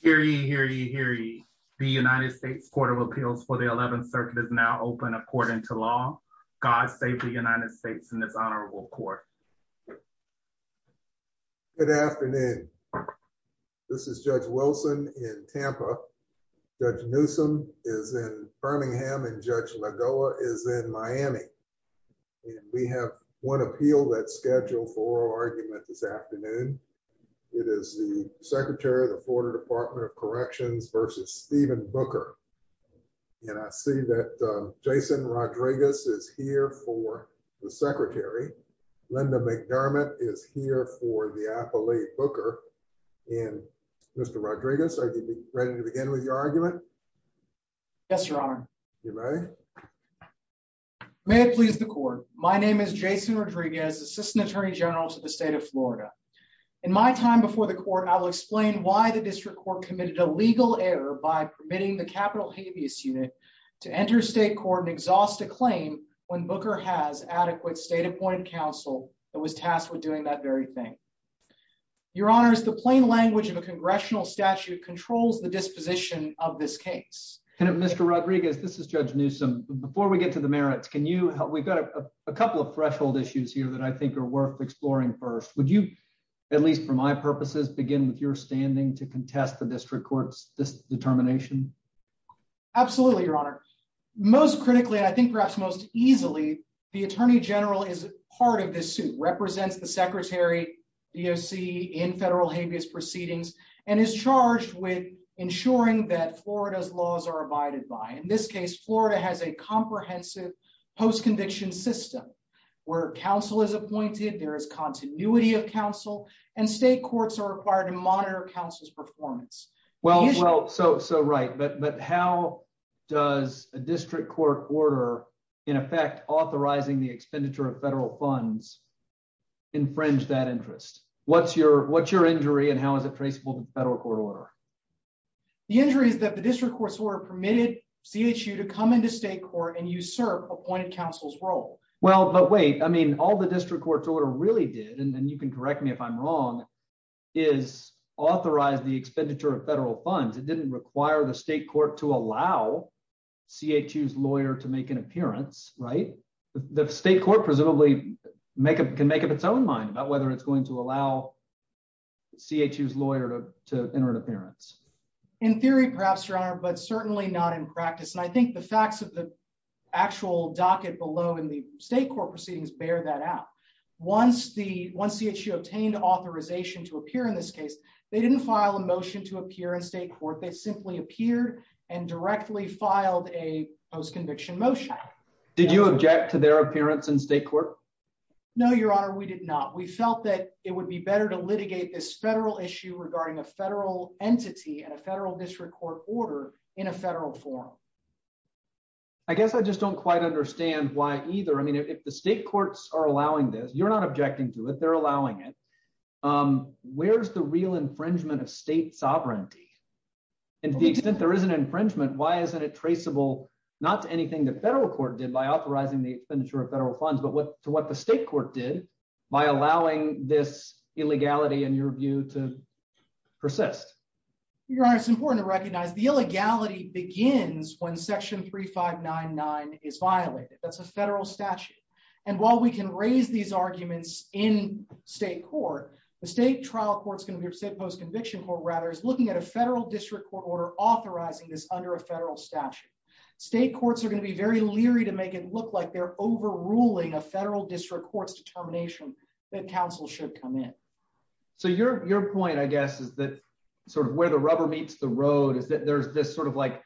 Hear ye, hear ye, hear ye. The United States Court of Appeals for the 11th circuit is now open according to law. God save the United States in this honorable court. Good afternoon. This is Judge Wilson in Tampa. Judge Newsom is in Birmingham and Judge Lagoa is in Miami. We have one appeal that's scheduled for argument this afternoon. It is the Secretary of the Florida Department of Corrections versus Stephen Booker. And I see that Jason Rodriguez is here for the Secretary. Linda McDermott is here for the appellate Booker. And Mr. Rodriguez, are you ready to begin with your argument? Yes, your honor. You may. May it please the court. My name is Jason Rodriguez, assistant attorney general to the state of Florida. In my time before the court, I will explain why the district court committed a legal error by permitting the capital habeas unit to enter state court and exhaust a claim when Booker has adequate state appointed counsel that was tasked with doing that very thing. Your honors, the plain language of a congressional statute controls the disposition of this case. Mr. Rodriguez, this is Judge Newsom. Before we go, a couple of threshold issues here that I think are worth exploring first. Would you, at least for my purposes, begin with your standing to contest the district court's determination? Absolutely, your honor. Most critically, I think perhaps most easily, the attorney general is part of this suit, represents the secretary, DOC in federal habeas proceedings, and is charged with ensuring that Florida's laws are abided by. In this case, Florida has a comprehensive post-conviction system where counsel is appointed, there is continuity of counsel, and state courts are required to monitor counsel's performance. Well, so right, but how does a district court order, in effect, authorizing the expenditure of federal funds, infringe that interest? What's your injury and how is it traceable to the federal court order? The injury is that the district court's order permitted CHU to come into state court and usurp appointed counsel's role. Well, but wait, I mean, all the district court's order really did, and you can correct me if I'm wrong, is authorize the expenditure of federal funds. It didn't require the state court to allow CHU's lawyer to make an appearance, right? The state court presumably can make up its own mind about whether it's going to enter an appearance. In theory, perhaps, Your Honor, but certainly not in practice, and I think the facts of the actual docket below in the state court proceedings bear that out. Once the CHU obtained authorization to appear in this case, they didn't file a motion to appear in state court. They simply appeared and directly filed a post-conviction motion. Did you object to their appearance in state court? No, Your Honor, we did not. We felt that it would be better to litigate this federal issue regarding a federal entity and a federal district court order in a federal forum. I guess I just don't quite understand why either. I mean, if the state courts are allowing this, you're not objecting to it, they're allowing it. Where's the real infringement of state sovereignty? And to the extent there is an infringement, why isn't it traceable not to anything the federal court did by authorizing the expenditure of federal funds, but to what the state court did by allowing this illegality, in your view, to persist? Your Honor, it's important to recognize the illegality begins when Section 3599 is violated. That's a federal statute. And while we can raise these arguments in state court, the state trial court's going to be, or state post-conviction court, rather, is looking at a federal district court order authorizing this under a federal statute. State courts are going to be very leery to make it look like they're overruling a federal district court's determination that counsel should come in. So your point, I guess, is that sort of where the rubber meets the road is that there's this sort of like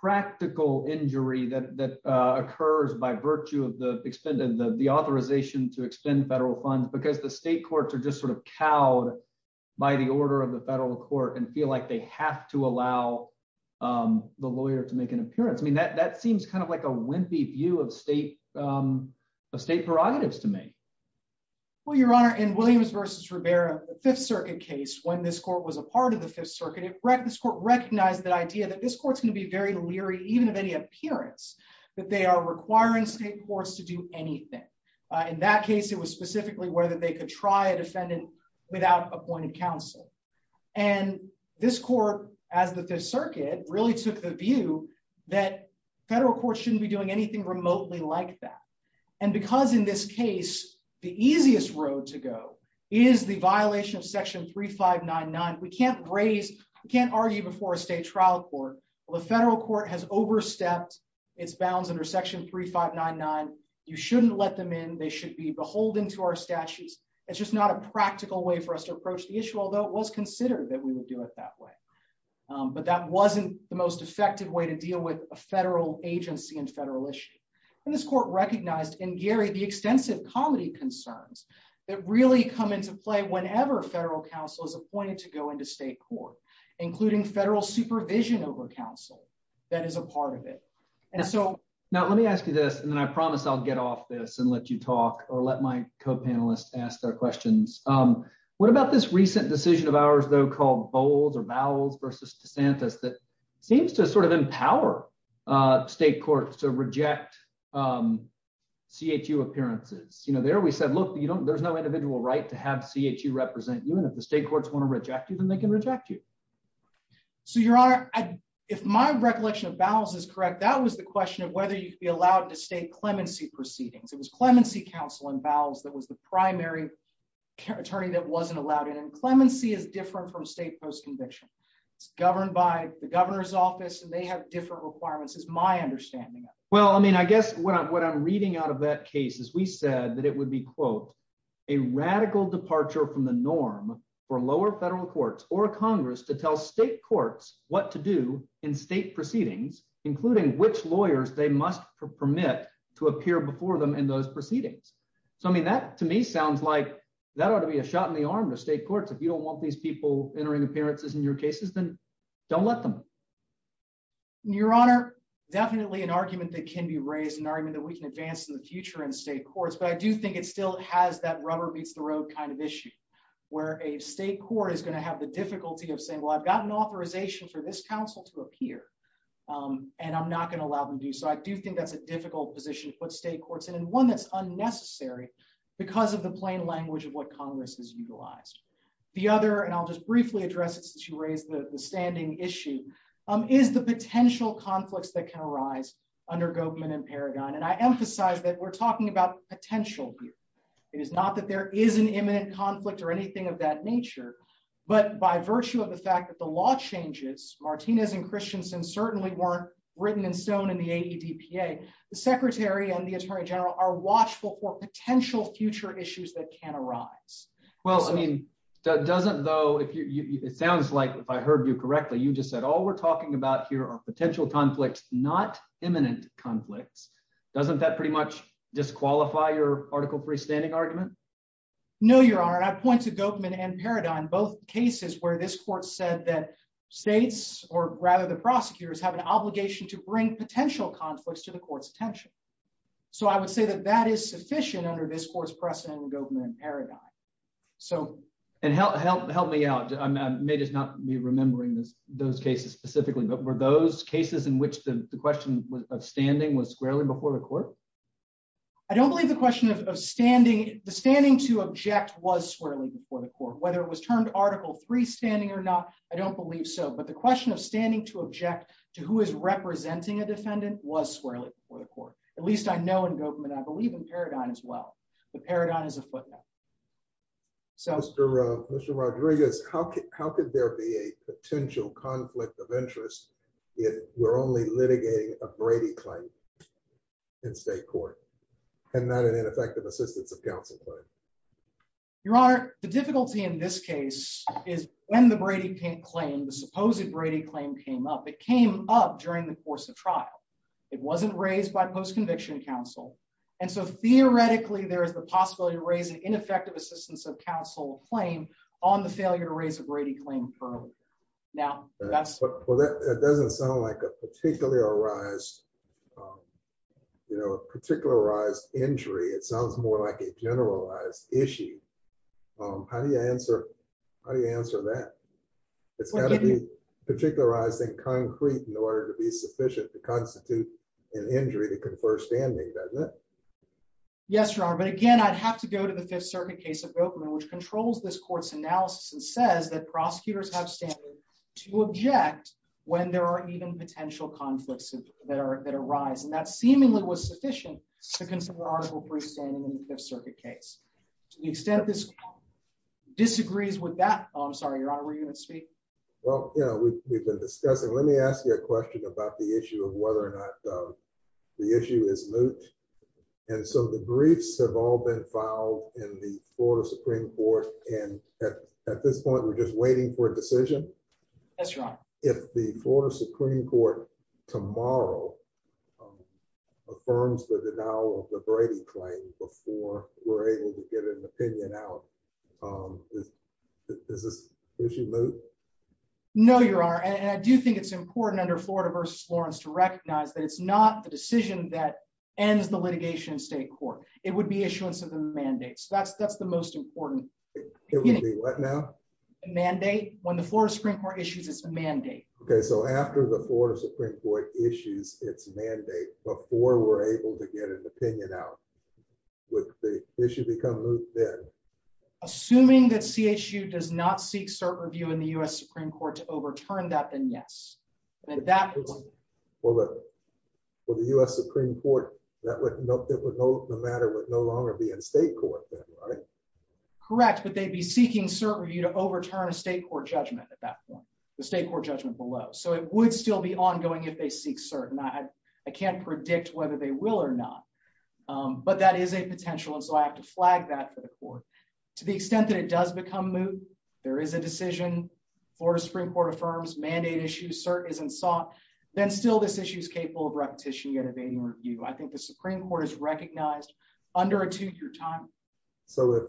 practical injury that occurs by virtue of the authorization to expend federal funds because the state courts are just sort of cowed by the order of the federal court and feel they have to allow the lawyer to make an appearance. I mean, that seems kind of like a wimpy view of state prerogatives to me. Well, your Honor, in Williams versus Rivera, the Fifth Circuit case, when this court was a part of the Fifth Circuit, this court recognized that idea that this court's going to be very leery, even of any appearance, that they are requiring state courts to do anything. In that case, it was specifically whether they could try a defendant without appointed counsel. And this court, as the Fifth Circuit, really took the view that federal courts shouldn't be doing anything remotely like that. And because in this case, the easiest road to go is the violation of Section 3599. We can't raise, we can't argue before a state trial court. The federal court has overstepped its bounds under Section 3599. You shouldn't let them in. They should be beholden to our statutes. It's just not a practical way for us to approach the issue, although it was considered that we would do it that way. But that wasn't the most effective way to deal with a federal agency and federal issue. And this court recognized, and Gary, the extensive comedy concerns that really come into play whenever federal counsel is appointed to go into state court, including federal supervision over counsel that is a part of it. Now, let me ask you this, and then I promise I'll get off this and let you talk or let my co-panelists ask their questions. What about this recent decision of ours, though, called Bowles or Bowles versus DeSantis that seems to sort of empower state courts to reject CHU appearances? There, we said, look, there's no individual right to have CHU represent you, and if the state courts want to reject you, then they can reject you. So, Your Honor, if my recollection of Bowles is correct, that was the question of whether you could be allowed to state clemency proceedings. It was clemency counsel in Bowles that was the primary attorney that wasn't allowed in. And clemency is different from state post-conviction. It's governed by the governor's office, and they have different requirements, is my understanding. Well, I mean, I guess what I'm reading out of that case is we said that it would be, quote, for lower federal courts or Congress to tell state courts what to do in state proceedings, including which lawyers they must permit to appear before them in those proceedings. So, I mean, that to me sounds like that ought to be a shot in the arm to state courts. If you don't want these people entering appearances in your cases, then don't let them. Your Honor, definitely an argument that can be raised, an argument that we can advance in the future in state courts, but I do think it still has that rubber-beats-the-road kind of issue, where a state court is going to have the difficulty of saying, well, I've got an authorization for this counsel to appear, and I'm not going to allow them to. So, I do think that's a difficult position to put state courts in, and one that's unnecessary because of the plain language of what Congress has utilized. The other, and I'll just briefly address it since you raised the standing issue, is the potential conflicts that can arise under Gobman and Paragon. And I emphasize that we're talking about potential here. It is not that there is an imminent conflict or anything of that nature, but by virtue of the fact that the law changes, Martinez and Christensen certainly weren't written in stone in the AEDPA, the Secretary and the Attorney General are watchful for potential future issues that can arise. Well, I mean, doesn't though, it sounds like, if I heard you correctly, you just said all we're talking about here are potential conflicts, not imminent conflicts. Doesn't that pretty much disqualify your article freestanding argument? No, Your Honor, and I point to Gobman and Paragon, both cases where this court said that states, or rather the prosecutors, have an obligation to bring potential conflicts to the court's attention. So, I would say that that is sufficient under this court's precedent in Gobman and Paragon. And help me out, I may just not be remembering those cases specifically, were those cases in which the question of standing was squarely before the court? I don't believe the question of standing, the standing to object was squarely before the court, whether it was termed article freestanding or not, I don't believe so. But the question of standing to object to who is representing a defendant was squarely before the court. At least I know in Gobman, I believe in Paragon as well. But Paragon is a footnote. Mr. Rodriguez, how could there be a potential conflict of interest if we're only litigating a Brady claim in state court and not an ineffective assistance of counsel claim? Your Honor, the difficulty in this case is when the Brady claim, the supposed Brady claim came up, it came up during the course of trial. It wasn't raised by post-conviction counsel. And so theoretically, there is the possibility to raise an ineffective assistance of counsel claim on the failure to raise a Brady claim. Now, that doesn't sound like a particular arise, you know, particular arise injury, it sounds more like a generalized issue. How do you answer? How do you answer that? It's got to be particularized in concrete in order to be sufficient to constitute an injury to confer standing, doesn't it? Yes, Your Honor. But again, I'd have to go to the Fifth Circuit case of Gobman, which controls this court's analysis and says that prosecutors have standard to object when there are even potential conflicts that arise. And that seemingly was sufficient to consider arbitral freestanding in the Fifth Circuit case. To the extent this disagrees with that, I'm sorry, Your Honor, were you going to speak? Well, yeah, we've been discussing. Let me ask you a question about the issue of whether or not the issue is moot. And so the briefs have all been filed in the Florida Supreme Court. And at this point, we're just waiting for a decision. Yes, Your Honor. If the Florida Supreme Court tomorrow affirms the denial of the Brady claim before we're able to get an opinion out, is this issue moot? No, Your Honor. And I do think it's important under Florida versus Florence to recognize that it's not the decision that ends the litigation in state court. It would be issuance of a mandate. So that's the most important. It would be what now? Mandate. When the Florida Supreme Court issues its mandate. Okay. So after the Florida Supreme Court issues its mandate, before we're able to get an opinion out, would the issue become moot then? Assuming that CHU does not seek cert review in the U.S. Supreme Court to overturn that, then yes. That was for the U.S. Supreme Court. That would no matter would no longer be in state court, right? Correct. But they'd be seeking cert review to overturn a state court judgment at that point, the state court judgment below. So it would still be ongoing if they seek cert. And I can't predict whether they will or not. But that is a potential. And so I have to flag that for the court to the extent that it does become moot. There is a decision. Florida Supreme Court affirms mandate issue. Cert isn't sought. Then still, this issue is capable of repetition yet evading review. I think the Supreme Court has recognized under a two-year time. So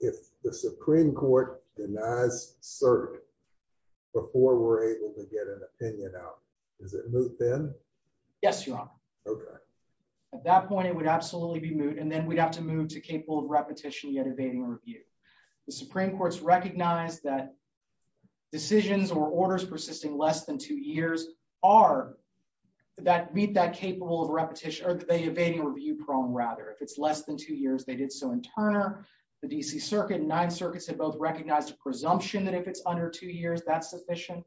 if the Supreme Court denies cert before we're able to get an opinion out, is it moot then? Yes, Your Honor. Okay. At that point, it would absolutely be moot. And then we'd have to move to capable of repetition yet evading review. The Supreme Court's recognized that decisions or orders persisting less than two years are that meet that capable of repetition or the evading review prong rather. If it's less than two years, they did so in Turner. The D.C. Circuit and Ninth Circuit have both recognized a presumption that if it's under two years, that's sufficient.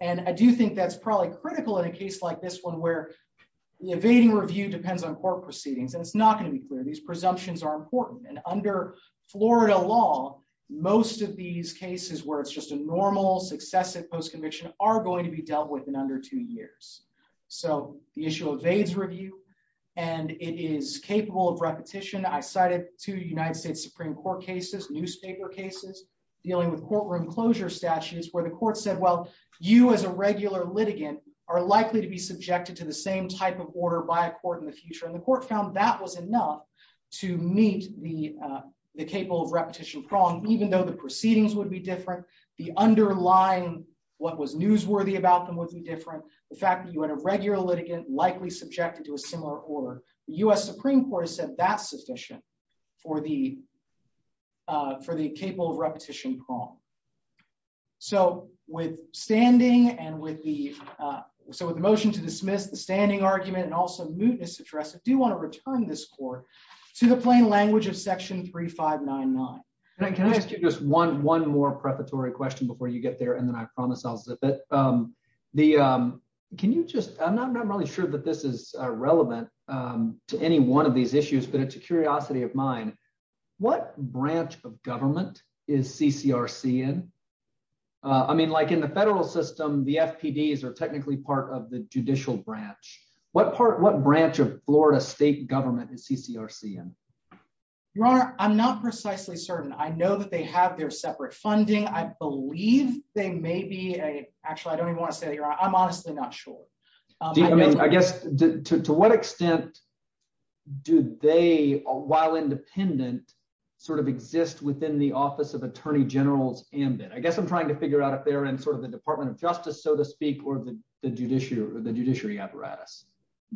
And I do think that's probably critical in a case like this one where the evading review depends on court proceedings. And it's not going to be clear. These presumptions are important. And under Florida law, most of these cases where it's just a normal successive post-conviction are going to be dealt with in under two years. So the issue of evades review, and it is capable of repetition. I cited two United States Supreme Court cases, newspaper cases, dealing with courtroom closure statutes where the court said, well, you as a regular litigant are likely to be subjected to the same type of order by a court in the future. The court found that was enough to meet the capable of repetition prong, even though the proceedings would be different. The underlying what was newsworthy about them would be different. The fact that you had a regular litigant likely subjected to a similar order. The U.S. Supreme Court has said that's sufficient for the capable of repetition prong. So with standing and with the motion to dismiss the standing argument and also this address, I do want to return this court to the plain language of section 3599. And I can ask you just one more preparatory question before you get there. And then I promise I'll zip it. The can you just I'm not really sure that this is relevant to any one of these issues, but it's a curiosity of mine. What branch of government is CCRC in? I mean, like in the federal system, the FPDs are technically part of the judicial branch. What part what branch of Florida state government is CCRC in? Your Honor, I'm not precisely certain. I know that they have their separate funding. I believe they may be a actually I don't even want to say that. I'm honestly not sure. I guess to what extent do they, while independent, sort of exist within the Office of Attorney General's ambit? I guess I'm trying to figure out if they're in sort Department of Justice, so to speak, or the judiciary or the judiciary apparatus.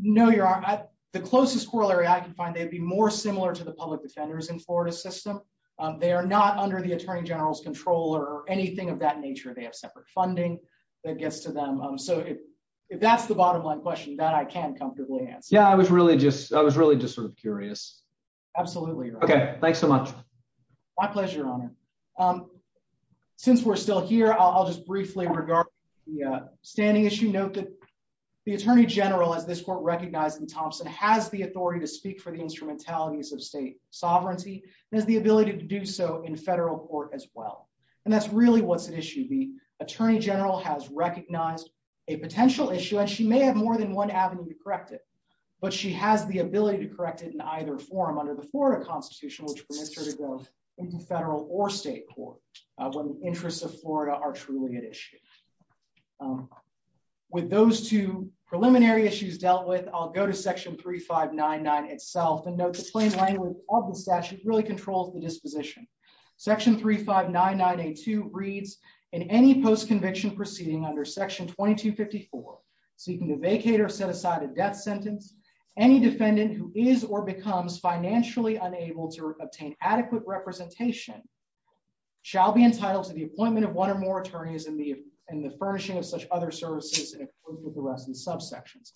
No, Your Honor. The closest corollary I can find, they'd be more similar to the public defenders in Florida system. They are not under the Attorney General's control or anything of that nature. They have separate funding that gets to them. So if that's the bottom line question that I can comfortably answer. Yeah, I was really just I was really just sort of curious. Absolutely. Okay, thanks so much. My pleasure, Your Honor. Since we're still here, I'll just briefly regard the standing issue note that the Attorney General as this court recognized in Thompson has the authority to speak for the instrumentalities of state sovereignty and has the ability to do so in federal court as well. And that's really what's at issue. The Attorney General has recognized a potential issue and she may have more than one avenue to correct it. But she has the ability to correct it in either form under the Florida Constitution, which permits her to go into federal or state court when the interests of Florida are truly at issue. With those two preliminary issues dealt with, I'll go to section 3599 itself and note the plain language of the statute really controls the disposition. Section 3599A2 reads, in any post conviction proceeding under section 2254, seeking to vacate or set aside a death any defendant who is or becomes financially unable to obtain adequate representation shall be entitled to the appointment of one or more attorneys in the in the furnishing of such other services, including the rest of the subsections.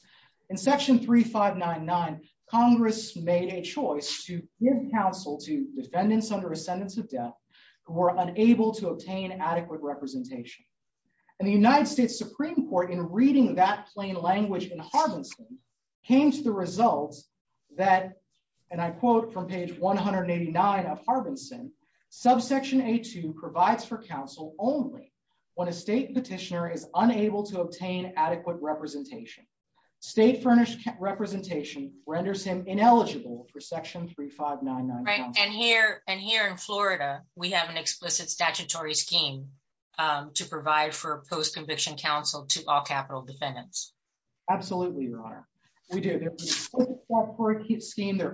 In section 3599, Congress made a choice to give counsel to defendants under a sentence of death who were unable to obtain adequate representation. And the United States Supreme Court, in reading that plain language in Harbinson, came to the result that, and I quote from page 189 of Harbinson, subsection A2 provides for counsel only when a state petitioner is unable to obtain adequate representation. State furnished representation renders him ineligible for section 3599. And here in Florida, we have an explicit statutory scheme to provide for post conviction counsel to all capital defendants. Absolutely, Your Honor. We do. They're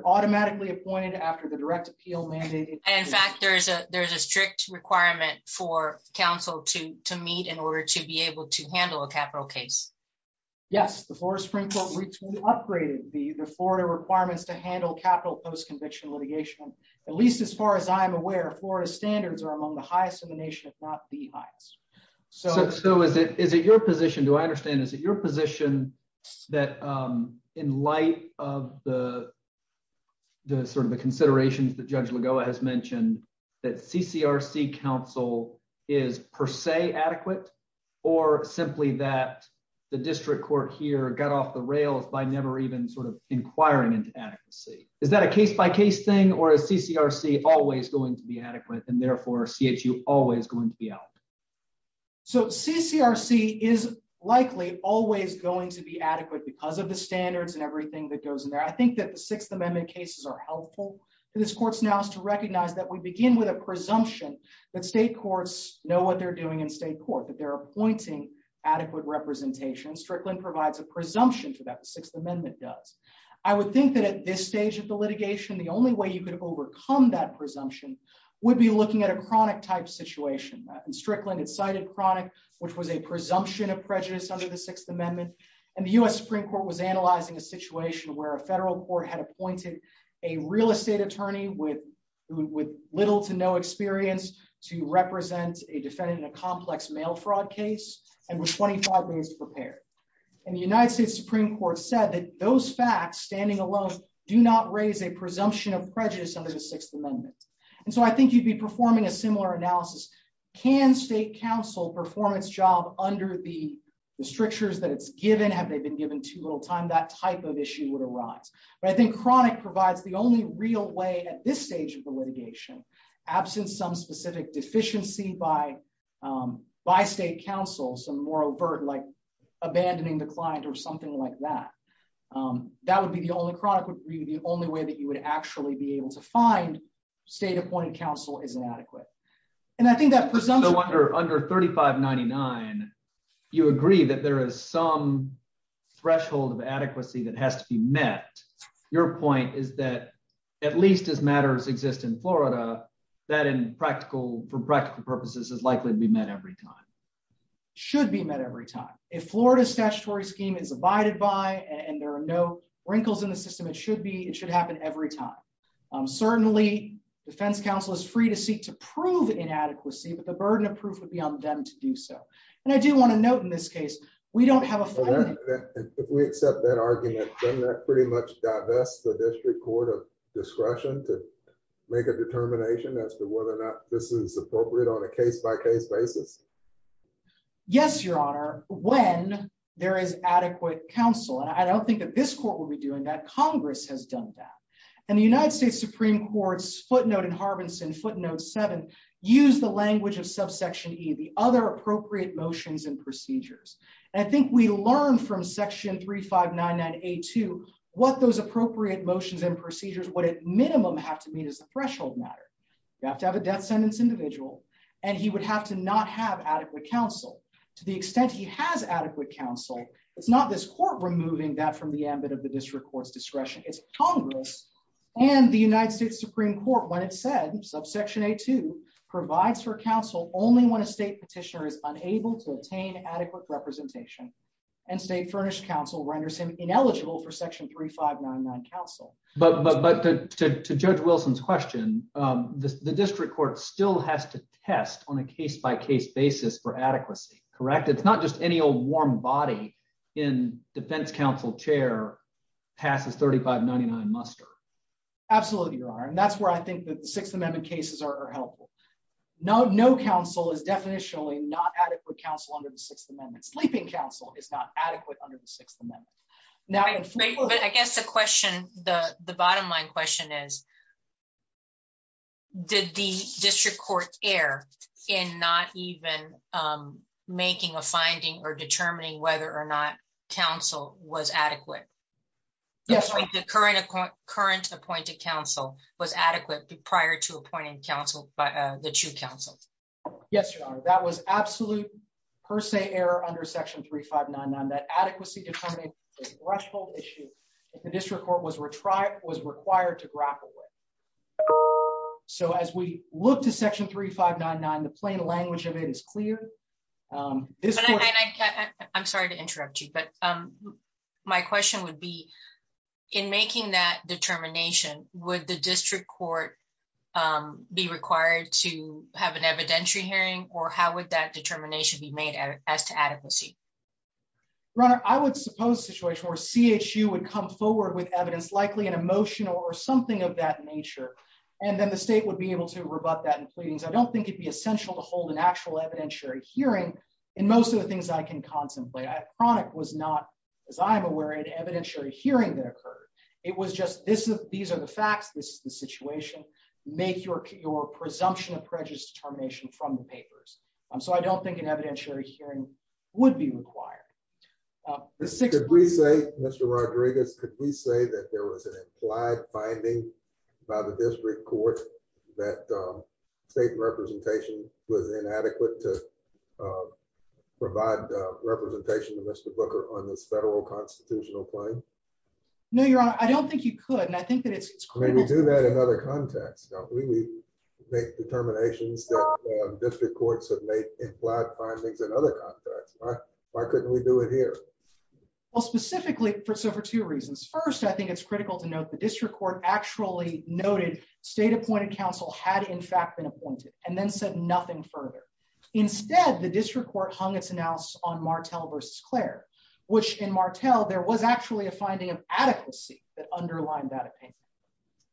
automatically appointed after the direct appeal mandate. In fact, there's a strict requirement for counsel to meet in order to be able to handle a capital case. Yes, the Florida Supreme Court upgraded the Florida requirements to handle capital post conviction litigation, at least as far as I'm aware, Florida standards are among the highest in the nation, if not the highest. So is it your position, do I understand, is it your position that in light of the sort of the considerations that Judge Lagoa has mentioned, that CCRC counsel is per se adequate, or simply that the district court here got off the rails by never even sort of inquiring into adequacy? Is that a case by case thing? Or is CCRC always going to be adequate, and therefore CHU always going to be out? So CCRC is likely always going to be adequate because of the standards and everything that goes in there. I think that the Sixth Amendment cases are helpful to this court's now is to recognize that we begin with a presumption that state courts know what they're doing in state court, that they're appointing adequate representation. Strickland provides a presumption to that the Sixth Amendment does. I would think that at this stage of the litigation, the only way you could overcome that presumption would be looking at a chronic type situation. And Strickland had cited chronic, which was a presumption of prejudice under the Sixth Amendment. And the US Supreme Court was analyzing a situation where a federal court had appointed a real estate attorney with little to no experience to represent a defendant in a complex mail fraud case, and with 25 days to prepare. And the United States Supreme Court said that those facts, standing alone, do not raise a presumption of prejudice under the Sixth Amendment. And so I think you'd be performing a similar analysis. Can state counsel perform its job under the strictures that it's given? Have they been given too little time? That type of issue would arise. But I think chronic provides the only real way at this stage of the litigation, absent some specific deficiency by state counsel, some more overt like abandoning the client or something like that. That would be the only chronic would be the only way that you would actually be able to find state appointed counsel is inadequate. And I think that presumption... No wonder under 3599, you agree that there is some is that at least as matters exist in Florida, that in practical for practical purposes is likely to be met every time. Should be met every time. If Florida statutory scheme is abided by and there are no wrinkles in the system, it should happen every time. Certainly, defense counsel is free to seek to prove inadequacy, but the burden of proof would be on them to do so. And I do want note in this case, we don't have a... If we accept that argument, doesn't that pretty much divest the district court of discretion to make a determination as to whether or not this is appropriate on a case by case basis? Yes, your honor, when there is adequate counsel. And I don't think that this court will be doing that. Congress has done that. And the United States Supreme Court's footnote in Harbinson footnote seven, use the language of subsection E, the appropriate motions and procedures. And I think we learned from section 3599A2, what those appropriate motions and procedures would at minimum have to meet as a threshold matter. You have to have a death sentence individual, and he would have to not have adequate counsel. To the extent he has adequate counsel, it's not this court removing that from the ambit of the district court's discretion. It's Congress and the United States Supreme Court when it said subsection A2 provides for counsel only when a state petitioner is unable to attain adequate representation and state furnished counsel renders him ineligible for section 3599 counsel. But to Judge Wilson's question, the district court still has to test on a case by case basis for adequacy, correct? It's not just any old warm body in defense counsel chair passes 3599 muster. Absolutely, you're right. And that's where I think that the Sixth Amendment cases are helpful. No, no counsel is definitionally not adequate counsel under the Sixth Amendment sleeping counsel is not adequate under the Sixth Amendment. Now, I guess the question, the the bottom line question is, did the district court air in not even making a finding or counsel was adequate prior to appointing counsel by the two councils? Yes, your honor, that was absolute per se error under section 3599 that adequacy threshold issue. The district court was retired was required to grapple with. So as we look to section 3599, the plain language of it is clear. This I'm sorry to interrupt you. But my question would be, in making that determination, would the district court be required to have an evidentiary hearing? Or how would that determination be made as to adequacy? runner, I would suppose situation where CHU would come forward with evidence, likely an emotion or something of that nature. And then the state would be able to rebut that and pleadings. I don't think it'd be essential to hold an actual evidentiary hearing. And most of the things I can contemplate, I chronic was not, as I'm aware, an evidentiary hearing that occurred. It was just this, these are the facts, this is the situation, make your your presumption of prejudice determination from the papers. So I don't think an evidentiary hearing would be required. The sixth we say, Mr. Rodriguez, could we say that there was an implied finding by the district court that state representation was inadequate to provide representation to Mr. Booker on this federal constitutional claim? No, Your Honor, I don't think you could. And I think that it's critical to do that in other contexts. We make determinations that district courts have made implied findings and other contracts. Why couldn't we do it here? Well, specifically for so for two reasons. First, I think it's critical to note the district court actually noted state appointed counsel had in fact been appointed and then said nothing further. Instead, the district court hung its analysis on Martel versus Claire, which in Martel, there was actually a finding of adequacy that underlined that opinion.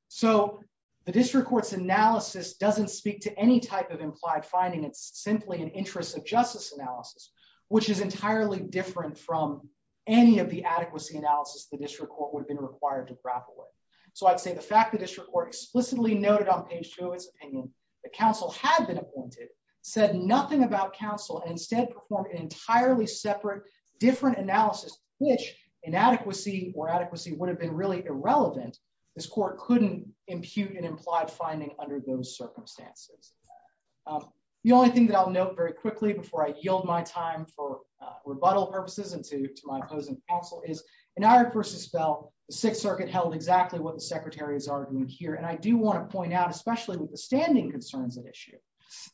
So the district court's analysis doesn't speak to any type of implied finding, it's simply an interest of justice analysis, which is entirely different from any of the adequacy analysis the district court would have been required to grapple with. So I'd say the fact that the district court explicitly noted on page two of its opinion that counsel had been appointed, said nothing about counsel, and instead performed an entirely separate, different analysis, which inadequacy or adequacy would have been really irrelevant, this court couldn't impute an implied finding under those circumstances. The only thing that I'll note very quickly before I yield my time for rebuttal purposes and to my opposing counsel is, in our versus Bell, the Sixth Circuit held exactly what the Secretary is arguing here, and I do want to point out, especially with the standing concerns at issue,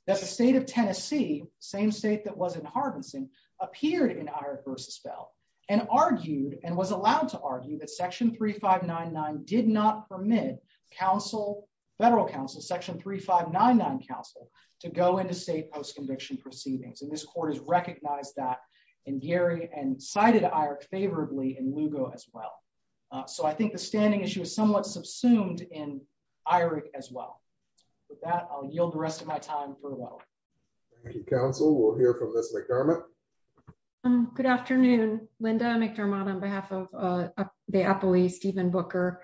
that the state of Tennessee, same state that was in Harvinson, appeared in Irek versus Bell and argued and was allowed to argue that section 3599 did not permit federal counsel, section 3599 counsel, to go into state post-conviction proceedings, and this court has recognized that in Gary and cited Irek favorably in Lugo as well. So I think the issue is somewhat subsumed in Irek as well. With that, I'll yield the rest of my time for rebuttal. Thank you, counsel. We'll hear from Ms. McDermott. Good afternoon, Linda McDermott, on behalf of the Apolee Stephen Booker.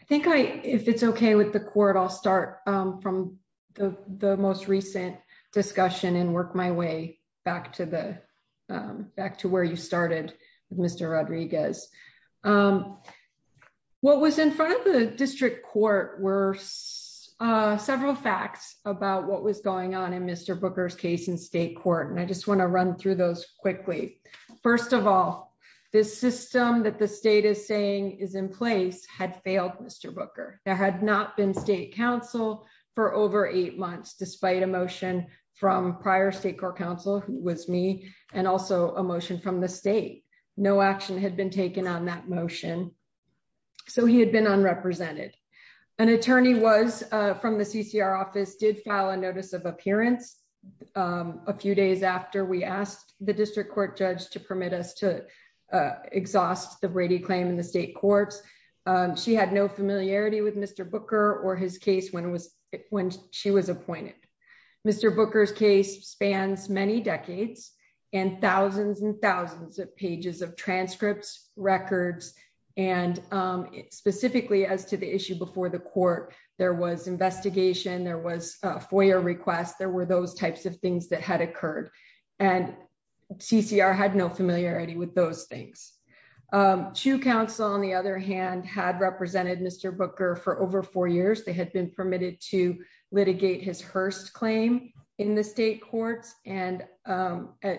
I think I, if it's okay with the court, I'll start from the most recent discussion and work my way back to where you were. What was in front of the district court were several facts about what was going on in Mr. Booker's case in state court, and I just want to run through those quickly. First of all, this system that the state is saying is in place had failed Mr. Booker. There had not been state counsel for over eight months, despite a motion from prior state court counsel, who was me, and also a motion from the state. No action had been taken on that motion, so he had been unrepresented. An attorney was from the CCR office, did file a notice of appearance a few days after we asked the district court judge to permit us to exhaust the Brady claim in the state courts. She had no familiarity with Mr. Booker or his case when she was appointed. Mr. Booker's case spans many decades and thousands and thousands of pages of transcripts, records, and specifically as to the issue before the court, there was investigation, there was a FOIA request, there were those types of things that had occurred, and CCR had no familiarity with those things. CHU counsel, on the other hand, had represented Mr. Booker for over four years. They had been permitted to litigate his Hearst claim in the state courts, and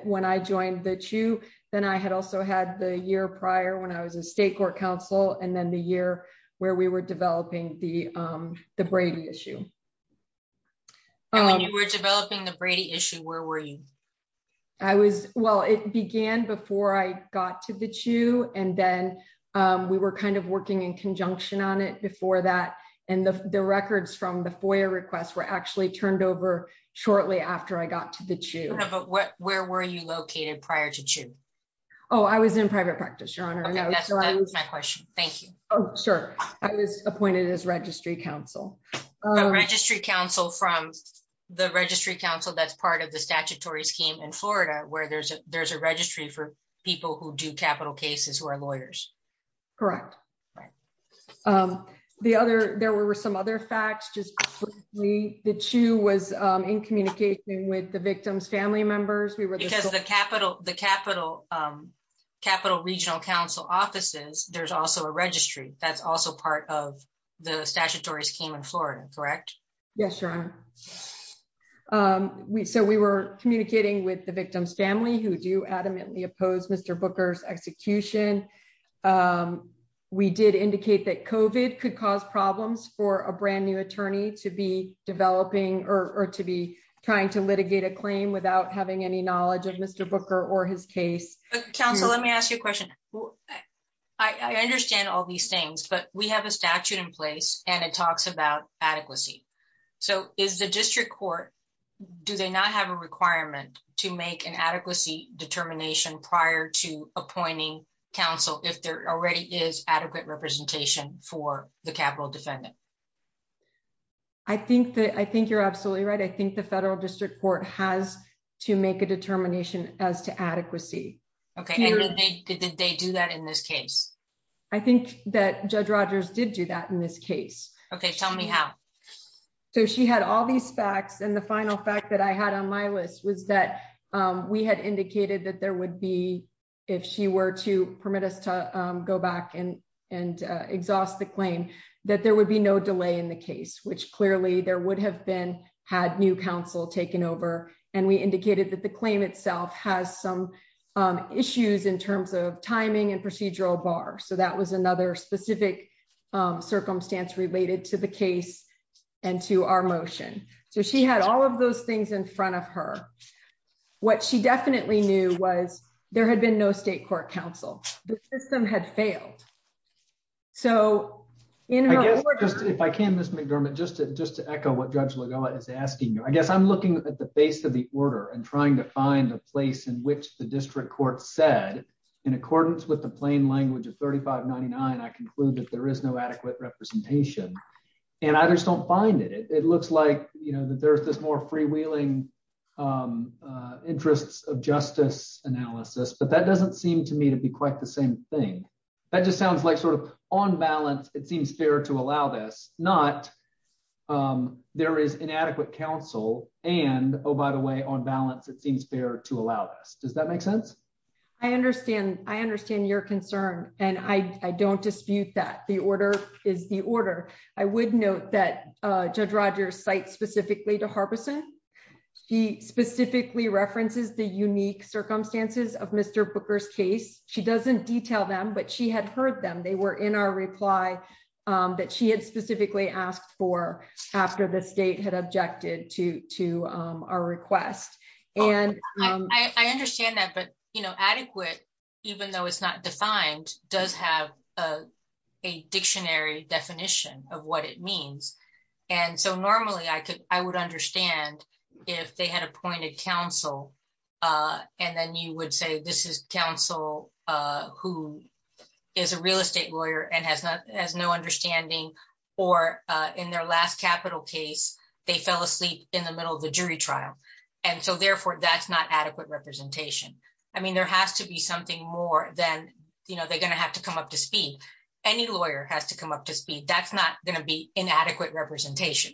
when I joined the CHU, then I had also had the year prior when I was a state court counsel, and then the year where we were developing the Brady issue. When you were developing the Brady issue, where were you? I was, well, it began before I got to the CHU, and then we were kind of working in conjunction on it before that, and the records from the FOIA request were actually turned over shortly after I got to the CHU. Yeah, but where were you located prior to CHU? Oh, I was in private practice, Your Honor. Okay, that's my question. Thank you. Oh, sure. I was appointed as registry counsel. A registry counsel from the registry counsel that's part of the statutory scheme in Florida, where there's a registry for people who do capital cases who Correct. There were some other facts. Just briefly, the CHU was in communication with the victim's family members. Because the capital regional counsel offices, there's also a registry that's also part of the statutory scheme in Florida, correct? Yes, Your Honor. So we were We did indicate that COVID could cause problems for a brand new attorney to be developing or to be trying to litigate a claim without having any knowledge of Mr. Booker or his case. Counsel, let me ask you a question. I understand all these things, but we have a statute in place, and it talks about adequacy. So is the district court, do they not have a requirement to make an adequacy determination prior to appointing counsel if there already is adequate representation for the capital defendant? I think that I think you're absolutely right. I think the federal district court has to make a determination as to adequacy. Okay. Did they do that in this case? I think that Judge Rogers did do that in this case. Okay, tell me how. So she had all these facts. And the final fact that I had on my list was that we had indicated that there would be, if she were to permit us to go back and exhaust the claim, that there would be no delay in the case, which clearly there would have been had new counsel taken over. And we indicated that the claim itself has some issues in terms of timing and to the case and to our motion. So she had all of those things in front of her. What she definitely knew was there had been no state court counsel. The system had failed. So if I can, Ms. McDermott, just to just to echo what Judge Lagoa is asking you, I guess I'm looking at the face of the order and trying to find a place in which the district court said in accordance with the plain language of 3599, I conclude that there is no adequate representation. And I just don't find it. It looks like, you know, that there's this more freewheeling interests of justice analysis, but that doesn't seem to me to be quite the same thing. That just sounds like sort of on balance, it seems fair to allow this not there is inadequate counsel. And oh, by the way, on balance, it seems fair to allow this. Does that make sense? I understand. I understand your concern. And I don't dispute that the order is the order. I would note that Judge Rogers cite specifically to Harbison. She specifically references the unique circumstances of Mr. Booker's case. She doesn't detail them, but she had heard them. They were in our reply that she had specifically asked for after the state had objected to our request. And I understand that. But, you know, adequate, even though it's not defined, does have a dictionary definition of what it means. And so normally I could I would understand if they had appointed counsel. And then you would say this is counsel who is a real estate lawyer and has not has no understanding or in their last capital case, they fell asleep in the middle of a jury trial. And so therefore, that's not adequate representation. I mean, there has to be something more than they're going to have to come up to speed. Any lawyer has to come up to speed. That's not going to be inadequate representation.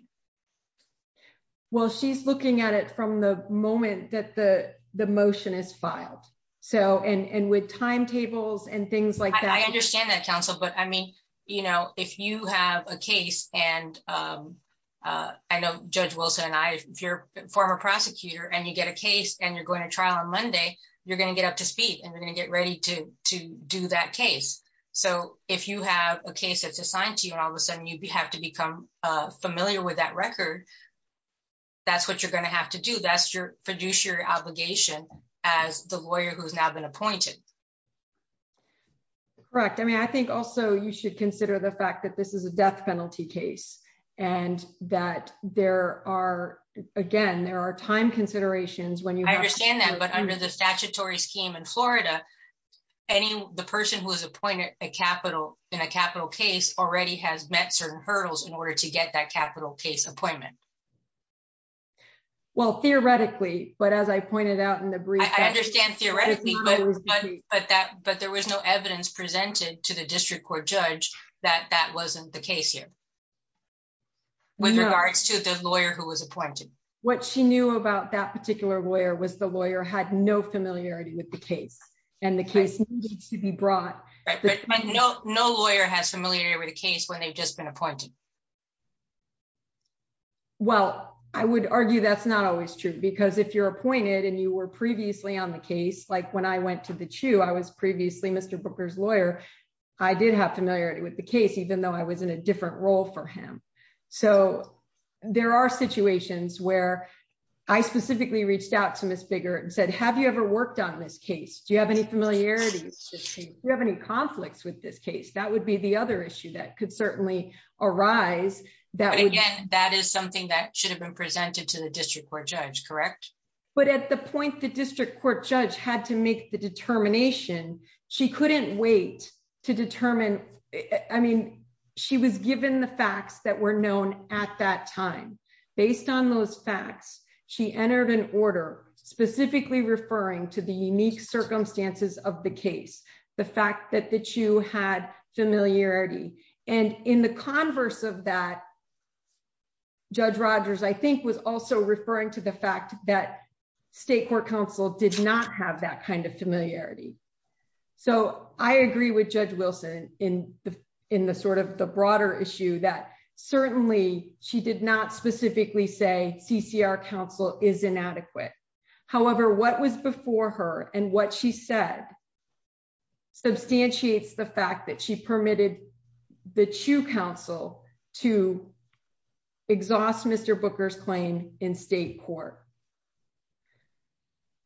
Well, she's looking at it from the moment that the motion is filed. So and with timetables and things like that, I understand that counsel. But I mean, you know, if you have a case and I know Judge Wilson and I, if you're a former prosecutor and you get a case and you're going to trial on Monday, you're going to get up to speed and you're going to get ready to to do that case. So if you have a case that's assigned to you and all of a sudden you have to become familiar with that record. That's what you're going to have to do. That's your fiduciary obligation as the lawyer who's now been appointed. Correct. I mean, I think also you should consider the fact that this is a death penalty case and that there are again, there are time considerations when you understand that. But under the statutory scheme in Florida, any the person who is appointed a capital in a capital case already has met certain hurdles in order to get that capital case appointment. Well, theoretically, but as I pointed out in the brief, I understand theoretically, but that but there was no evidence presented to the district court judge that that wasn't the case here. With regards to the lawyer who was appointed. What she knew about that particular lawyer was the lawyer had no familiarity with the case and the case needs to be brought. No lawyer has familiarity with the case when they've just been appointed. Well, I would argue that's not always true, because if you're appointed and you were to the two, I was previously Mr. Booker's lawyer. I did have familiarity with the case, even though I was in a different role for him. So there are situations where I specifically reached out to Miss Bigger and said, Have you ever worked on this case? Do you have any familiarity? Do you have any conflicts with this case? That would be the other issue that could certainly arise that again, that is something that should have been presented to the district judge, correct. But at the point, the district court judge had to make the determination, she couldn't wait to determine. I mean, she was given the facts that were known at that time. Based on those facts, she entered an order specifically referring to the unique circumstances of the case, the fact that that you had familiarity. And in the converse of that, Judge Rogers, I think was also referring to the fact that state court counsel did not have that kind of familiarity. So I agree with Judge Wilson in the in the sort of the broader issue that certainly she did not specifically say CCR counsel is inadequate. However, what was before her and what she said, substantiates the fact that she permitted the chew counsel to exhaust Mr. Booker's claim in state court.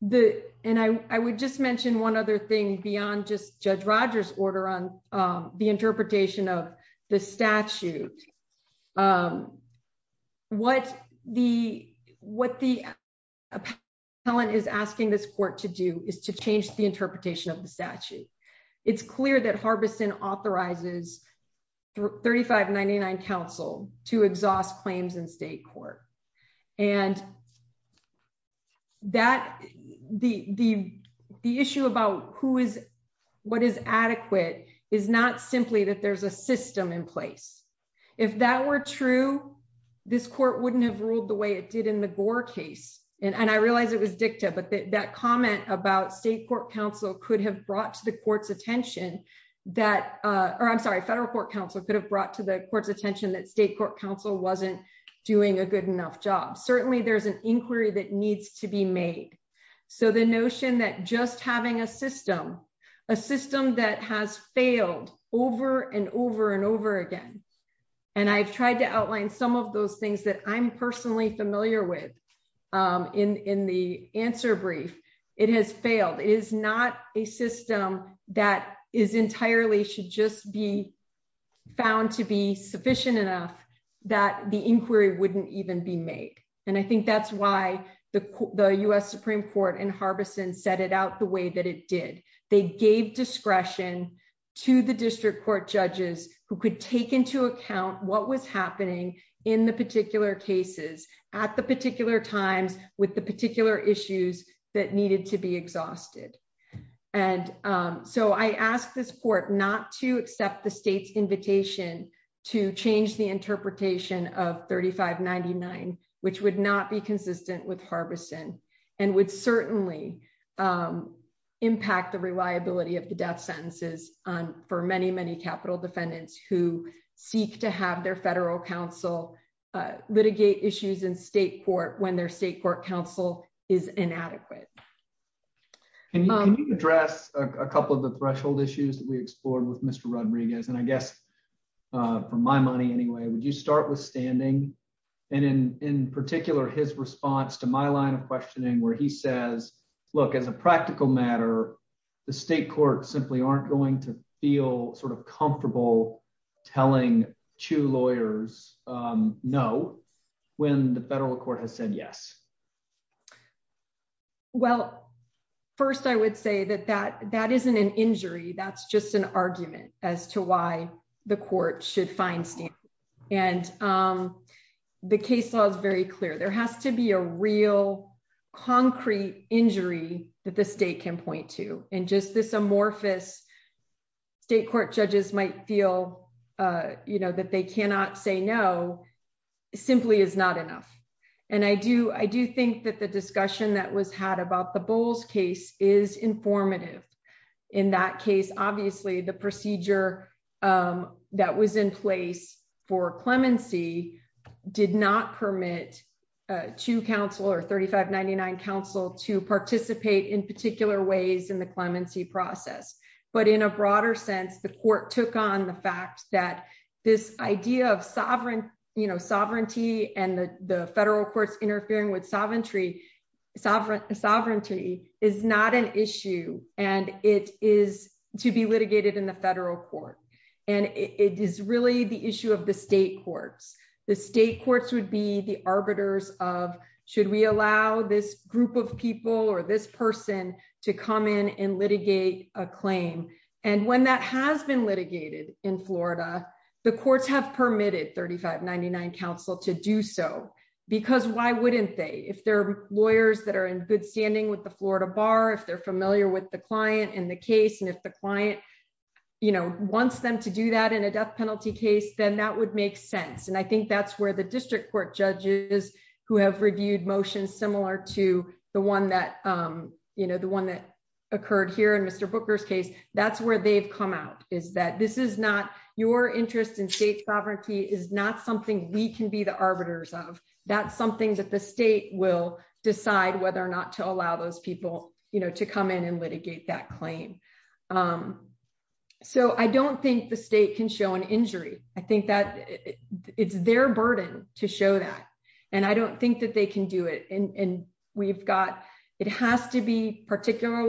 The and I would just mention one other thing beyond just Judge Rogers order on the interpretation of the statute. What the what the appellant is asking this court to do is to change the interpretation of the statute. It's clear that Harbison authorizes 3599 counsel to exhaust claims in state court. And that the the issue about who is what is adequate is not simply that there's a system in place. If that were true, this court wouldn't have ruled the way it did in the Gore case. And I realize it was dicta, but that comment about state court counsel could have brought to the court's attention that or I'm sorry, federal court counsel could have brought to the court's attention that state court counsel wasn't doing a good enough job. Certainly there's an inquiry that needs to be made. So the notion that just having a system, a system that has failed over and over and over again, and I've tried to outline some of those things that I'm personally familiar with. In the answer brief, it has failed is not a system that is entirely should just be found to be sufficient enough that the inquiry wouldn't even be made. And I think that's why the US Supreme Court and Harbison set it out the way that it did. They gave discretion to the district court judges who could take into account what was happening in the particular cases at the particular times with the particular issues that needed to be exhausted. And so I asked this court not to accept the state's invitation to change the interpretation of 3599, which would not be consistent with Harbison, and would certainly impact the reliability of the death sentences on for many, many capital defendants who seek to have their federal counsel litigate issues in state court when their state court counsel is inadequate. Can you address a couple of the threshold issues that we explored with Mr. Rodriguez, and I guess for my money anyway, would you start with standing? And in particular, his response to my line of questioning where he says, look, as a practical matter, the state courts simply aren't going to feel sort of comfortable telling to lawyers know when the federal court has said yes. Well, first, I would say that that that isn't an injury. That's just an argument as to why the court should find stand. And the case law is very clear, there has to be a real, concrete injury that the state can point to. And just this amorphous state court judges might feel, you know, that they cannot say no, simply is not enough. And I do I do think that the discussion that was had about the bowls case is informative. In that case, obviously, the procedure that was in place for clemency did not permit to counsel or 3599 counsel to participate in particular ways in the clemency process. But in a broader sense, the court took on the fact that this idea of sovereign, you know, sovereignty and the federal courts interfering with sovereignty, sovereign sovereignty is not an issue. And it is to be litigated in the federal court. And it is really the issue of the state courts, the state courts would be the arbiters of should we allow this group of people or this person to come in and litigate a claim. And when that has been litigated in Florida, the courts have permitted 3599 counsel to do so. Because why wouldn't they if they're lawyers that are in good standing with the Florida bar, if they're familiar with the client and the case, and if the client, you know, wants them to do that in a death penalty case, then that would make sense. And I think that's where the district court judges who have reviewed motions similar to the one that, you know, the one that occurred here in Mr. Booker's case, that's where they've come out is that this is not your interest in state sovereignty is not something we can be the arbiters of, that's something that the state will decide whether or not to allow those people, you know, to come in and litigate that claim. So I don't think the state can show an injury, I think that it's their burden to show that. And I don't think that they can do it. And we've got, it has to be particular,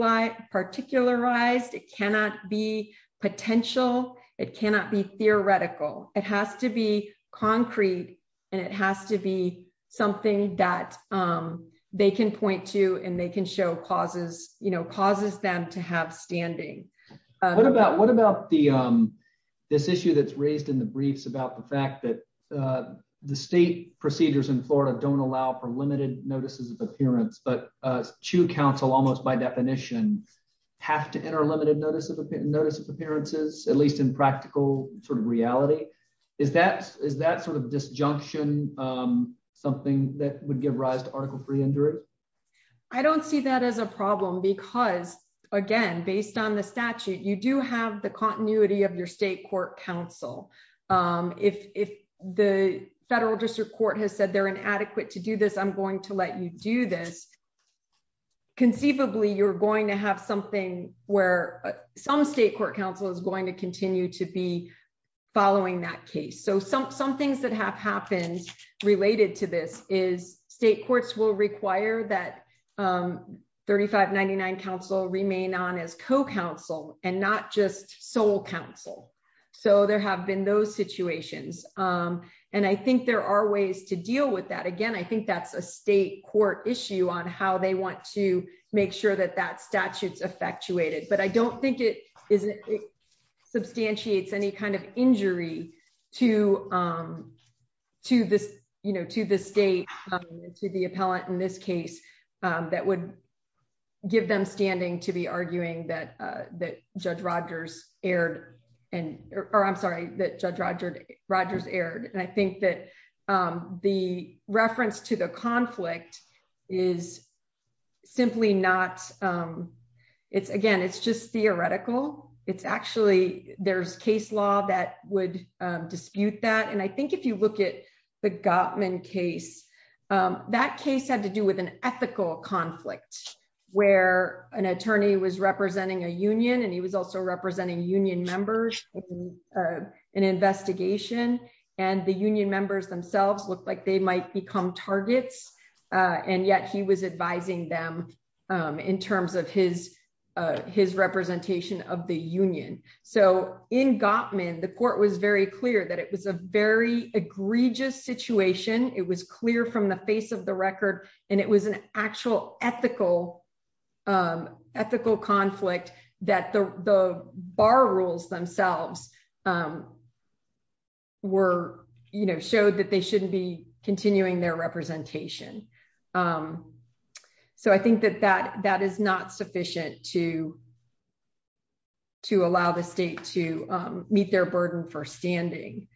particularized, it cannot be potential, it cannot be theoretical, it has to be concrete. And it has to be something that they can point to and they can show causes, you know, causes them to have standing. What about what about the this issue that's raised in the briefs about the fact that the state procedures in Florida don't allow for limited notices of appearance, but to counsel almost by definition, have to enter limited notice of notice of appearances, at least in practical sort of reality. Is that is that sort of disjunction, something that would give rise to article three injury? I don't see that as a problem. Because, again, based on the statute, you do have the continuity of your state court counsel. If the federal district court has said they're inadequate to do this, I'm going to let you do this. conceivably, you're going to have something where some state court counsel is going to continue to be following that case. So some some things that have happened related to this is state courts will require that 3599 counsel remain on as co counsel, and not just sole counsel. So there have been those situations. And I think there are ways to deal with that. Again, I think that's a state court issue on how they want to make sure that that statutes effectuated, but I don't think it isn't substantiates any kind of injury to to this, you know, to the state, to the appellate in this case, that would give them standing to be arguing that that Judge Rogers aired and or I'm sorry, that Judge Roger Rogers aired and I think that the reference to the conflict is simply not. It's again, it's just theoretical. It's actually there's case law that would dispute that. And I think if you look at the Gottman case, that case had to do with an ethical conflict, where an attorney was representing a union, and he was also representing union members. An investigation, and the union members themselves looked like they might become targets. And yet he was advising them in terms of his, his representation of the union. So in Gottman, the court was very clear that it was a very egregious situation. It was clear from the face of the record. And it was an actual ethical, ethical conflict that the bar rules themselves were, you know, showed that they shouldn't be continuing their representation. So I think that that that is not sufficient to to allow the state to meet their burden for standing.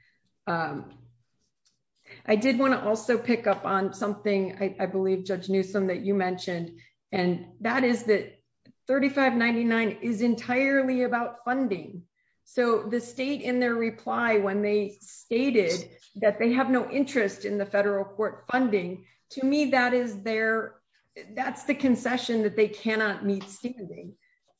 I did want to also pick up on something I believe Judge Newsome that you mentioned, and that is that 3599 is entirely about funding. So the state in their reply, when they stated that they have no interest in the federal court funding, to me, that is their, that's the concession that they cannot meet standing.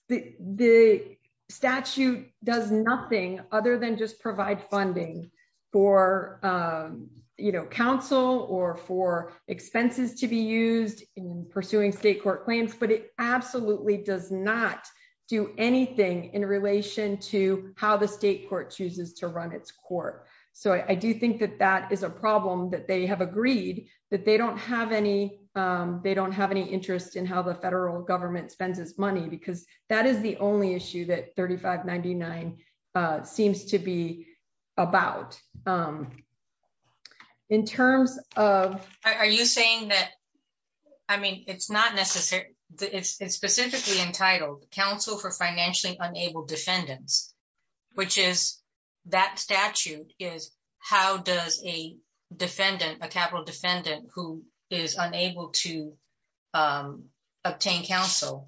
The statute does nothing other than just provide funding for, you know, counsel or for expenses to be used in pursuing state court claims. But it absolutely does not do anything in relation to how the state court chooses to run its court. So I do think that that is a problem that they have agreed that they don't have any, they don't have any interest in how the federal government spends its money, because that is the only issue that 3599 seems to be about. In terms of... Are you saying that, I mean, it's not necessarily, it's specifically entitled counsel for financially unable defendants, which is that statute is how does a defendant, a capital defendant who is unable to obtain counsel,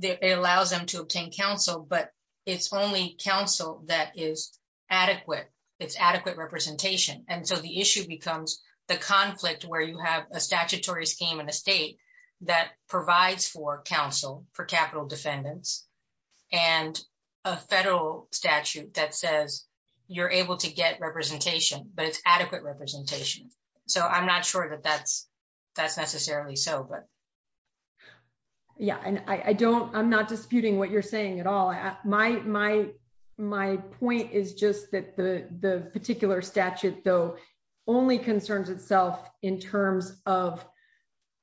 it allows them to obtain counsel, but it's only counsel that is adequate, it's adequate representation. And so the issue becomes the conflict where you have a statutory scheme in a state that provides for counsel for capital defendants, and a federal statute that says you're able to get representation, but it's so I'm not sure that that's, that's necessarily so, but... Yeah, and I don't, I'm not disputing what you're saying at all. My point is just that the particular statute, though, only concerns itself in terms of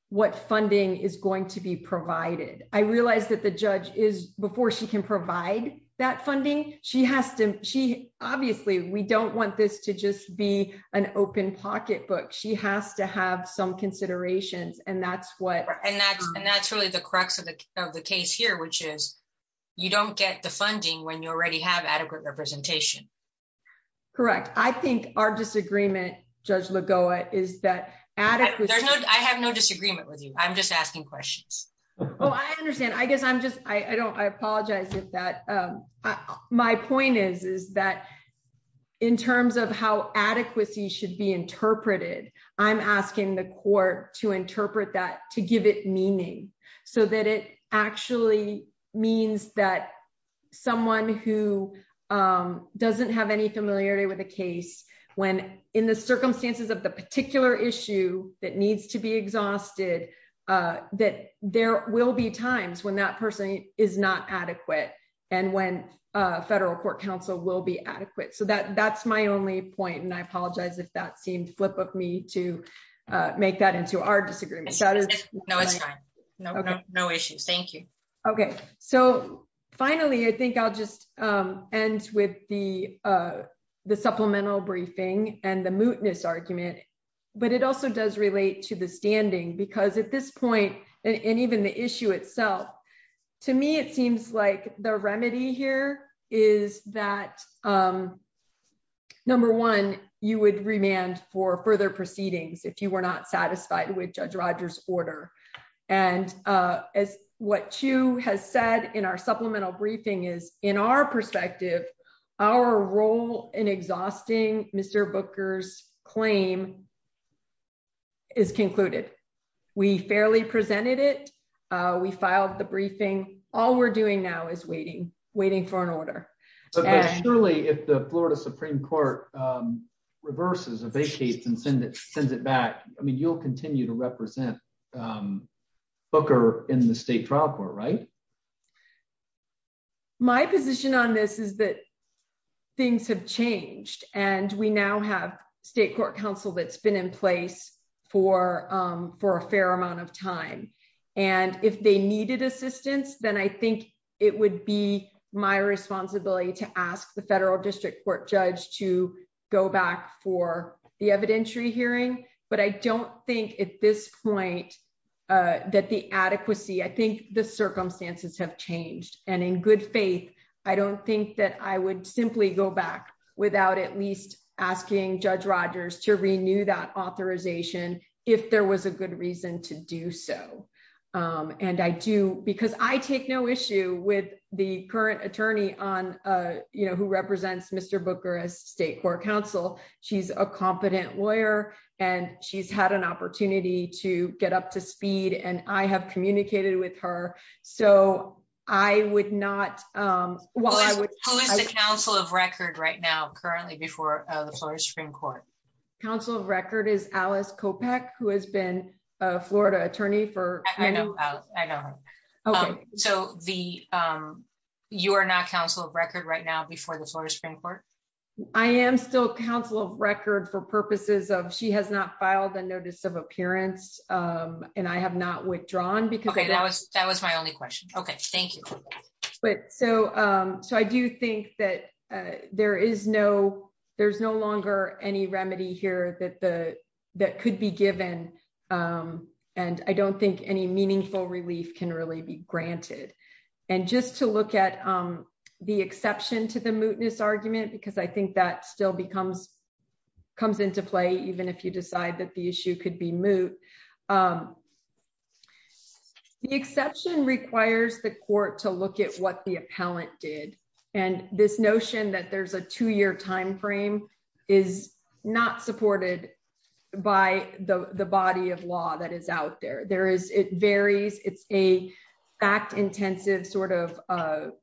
what funding is going to be provided. I realized that the judge is, before she can provide that funding, she has to, she obviously, we don't want this to just be an open pocketbook. She has to have some considerations. And that's what... And that's really the crux of the case here, which is, you don't get the funding when you already have adequate representation. Correct. I think our disagreement, Judge Lagoa, is that... I have no disagreement with you. I'm just asking questions. Oh, I understand. I guess I'm just, I don't, I apologize if that... My point is, is that in terms of how adequacy should be interpreted, I'm asking the court to interpret that to give it meaning, so that it actually means that someone who doesn't have any familiarity with the case, when in the circumstances of the particular issue that needs to be exhausted, that there will be times when that person is not adequate, and when federal court counsel will be adequate. So that's my only point. And I apologize if that seemed flip of me to make that into our disagreement. No, it's fine. No issue. Thank you. Okay. So finally, I think I'll just end with the supplemental briefing and the mootness argument, but it also does relate to the standing. Because at this point, and even the issue itself, to me, it seems like the remedy here is that, number one, you would remand for further proceedings if you were not satisfied with Judge Rogers' order. And as what Chu has said in our supplemental briefing is, in our perspective, our role in exhausting Mr. Booker's claim is concluded. We fairly presented it. We filed the briefing. All we're doing now is waiting, waiting for an order. But surely, if the Florida Supreme Court reverses a case and sends it back, I mean, you'll continue to represent Booker in the state trial court, right? So my position on this is that things have changed, and we now have state court counsel that's been in place for a fair amount of time. And if they needed assistance, then I think it would be my responsibility to ask the federal district court judge to go back for the evidentiary hearing. But I don't think at this point that the adequacy, I think the circumstances have changed. And in good faith, I don't think that I would simply go back without at least asking Judge Rogers to renew that authorization if there was a good reason to do so. Because I take no issue with the current attorney who represents Mr. Booker as state court counsel. She's a competent lawyer, and she's had an opportunity to get up to speed, and I have communicated with her. So I would not... Well, I would... Who is the counsel of record right now, currently, before the Florida Supreme Court? Counsel of record is Alice Kopech, who has been a Florida attorney for... I know. I know her. So you are not counsel of record right now before the Florida Supreme Court? I am still counsel of record for purposes of she has not filed a notice of appearance, and I have not withdrawn because... Okay. That was my only question. Okay. Thank you. But so I do think that there is no... There's no longer any remedy here that could be given, and I don't think any meaningful relief can really be granted. And just to look at the exception to the mootness argument, because I think that still becomes... comes into play, even if you decide that the issue could be moot. The exception requires the court to look at what the appellant did, and this notion that there's a two-year timeframe is not supported by the body of law that is out there. There is... It varies. It's a fact-intensive sort of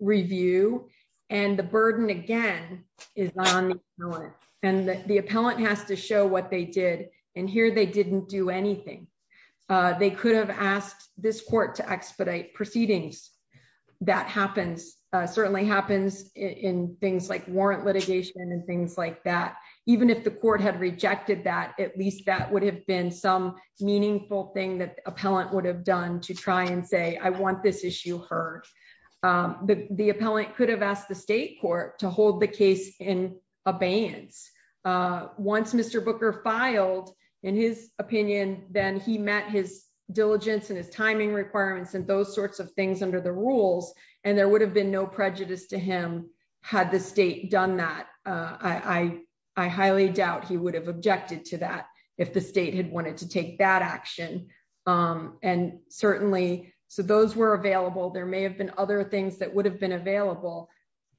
review, and the burden, again, is on the appellant. And the appellant has to show what they did, and here they didn't do anything. They could have asked this court to expedite proceedings. That happens, certainly happens in things like warrant litigation and things like that. Even if the court had rejected that, at least that would have been some meaningful thing that the appellant would have done to try and say, I want this issue heard. But the appellant could have asked the state court to hold the case in abeyance. Once Mr. Booker filed in his opinion, then he met his diligence and his timing requirements and those sorts of things under the rules, and there would have been no prejudice to him had the state done that. I highly doubt he would have objected to that if the state had wanted to take that action. And certainly, so those were available. There may have been other things that would have been available,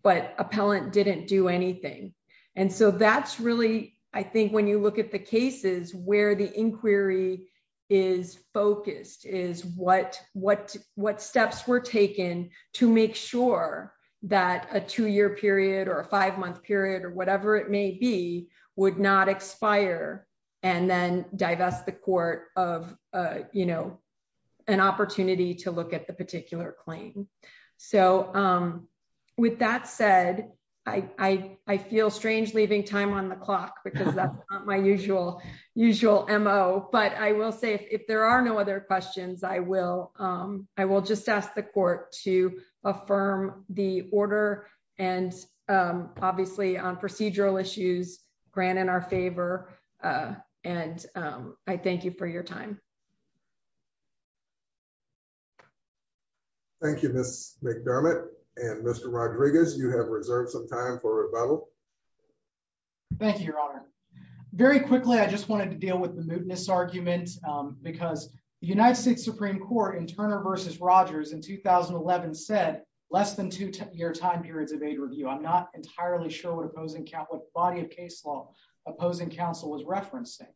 but appellant didn't do anything. And so that's really, I think, when you look at the cases where the inquiry is focused, is what steps were taken to make sure that a two-year period or a five-month period or whatever it may be would not expire and then divest the court of an opportunity to look at the particular claim. So with that said, I feel strange leaving time on the clock because that's not my usual MO, but I will say if there are no questions, I will just ask the court to affirm the order and obviously on procedural issues, grant in our favor, and I thank you for your time. Thank you, Ms. McDermott. And Mr. Rodriguez, you have reserved some time for rebuttal. Thank you, Your Honor. Very quickly, I just wanted to deal with the mootness argument because the United States Supreme Court in Turner v. Rogers in 2011 said less than two-year time periods of aid review. I'm not entirely sure what opposing Catholic body of case law opposing counsel was referencing.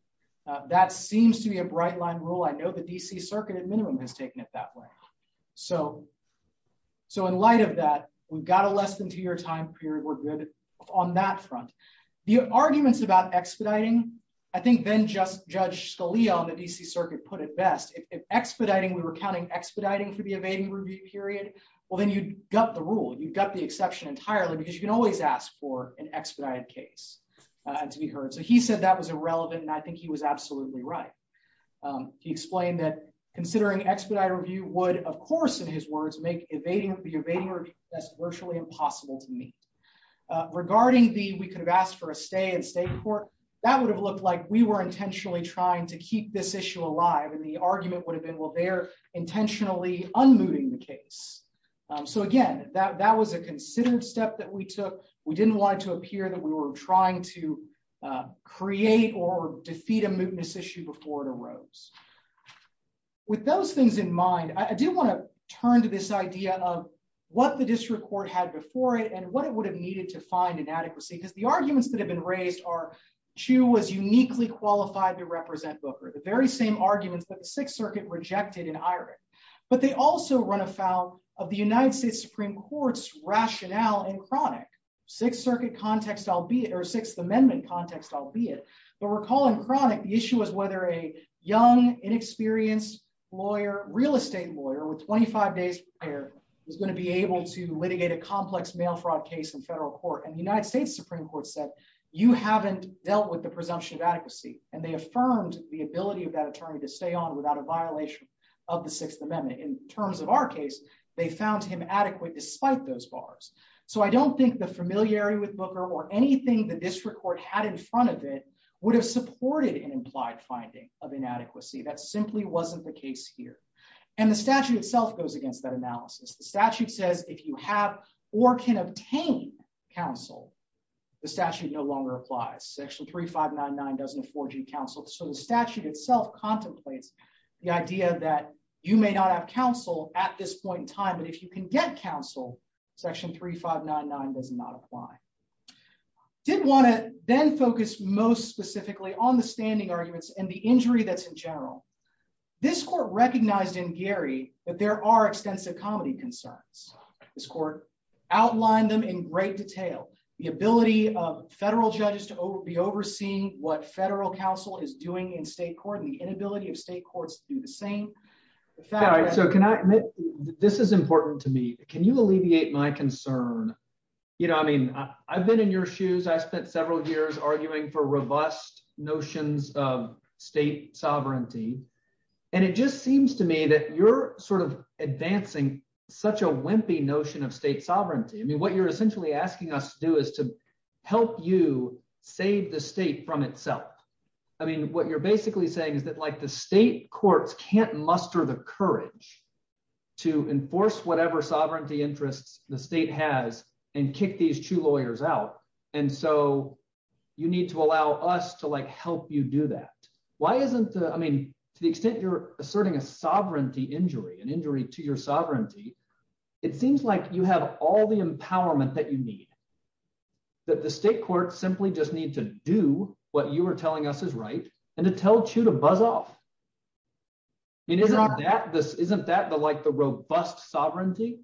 That seems to be a bright line rule. I know the D.C. Circuit at minimum has taken it that way. So in light of that, we've got a less than two-year time period. We're good on that front. The arguments about expediting, I think then Judge Scalia on the D.C. Circuit put it best. If we were counting expediting for the evading review period, well, then you've got the rule. You've got the exception entirely because you can always ask for an expedited case to be heard. So he said that was irrelevant, and I think he was absolutely right. He explained that considering expedited review would, of course, in his words, make the evading that's virtually impossible to meet. Regarding the we could have asked for a stay in state court, that would have looked like we were intentionally trying to keep this issue alive and the argument would have been, well, they're intentionally unmooting the case. So again, that was a considered step that we took. We didn't want it to appear that we were trying to create or defeat a mootness issue before it arose. With those things in mind, I do want to turn to this idea of what the district court had before it and what it would have needed to find inadequacy because the arguments that have been raised are Chu was uniquely qualified to represent Booker, the very same arguments that the Sixth Circuit rejected in Irich. But they also run afoul of the United States Supreme Court's rationale in Cronic. Sixth Circuit context, albeit, or Sixth Amendment context, albeit, but recall in Cronic, the issue was whether a young, inexperienced lawyer, real estate lawyer with 25 days prior was going to be able to litigate a complex mail fraud case in federal court. And the United States Supreme Court said, you haven't dealt with the presumption of adequacy. And they affirmed the ability of that attorney to stay on without a violation of the Sixth Amendment. In terms of our case, they found him adequate despite those bars. So I don't think the familiarity with Booker or anything the district court had in front of it would have supported an implied finding of inadequacy. That simply wasn't the case here. And the statute itself goes against that analysis. The statute says if you have or can obtain counsel, the statute no longer applies. Section 3599 doesn't afford you counsel. So the statute itself contemplates the idea that you may not have counsel at this point in time. But if you can get counsel, Section 3599 does not apply. I did want to then focus most specifically on the standing arguments and the injury that's in general. This court recognized in Gary that there are extensive comedy concerns. This court outlined them in great detail. The ability of federal judges to be overseeing what federal counsel is doing in state court and the inability of state courts to do the same. So can I admit, this is important to me. Can you alleviate my concern? You know, I mean, I've been in your shoes. I spent several years arguing for robust notions of state sovereignty. And it just seems to me that you're sort of advancing such a wimpy notion of state sovereignty. I mean, what you're essentially asking us to do is to help you save the state from itself. I mean, what you're basically saying is that the state courts can't muster the courage to enforce whatever sovereignty interests the state has and kick these two lawyers out. And so you need to allow us to help you do that. Why isn't the, I mean, to the extent you're asserting a sovereignty injury, an injury to your sovereignty, it seems like you have all the and to tell Chu to buzz off. I mean, isn't that the like the robust sovereignty?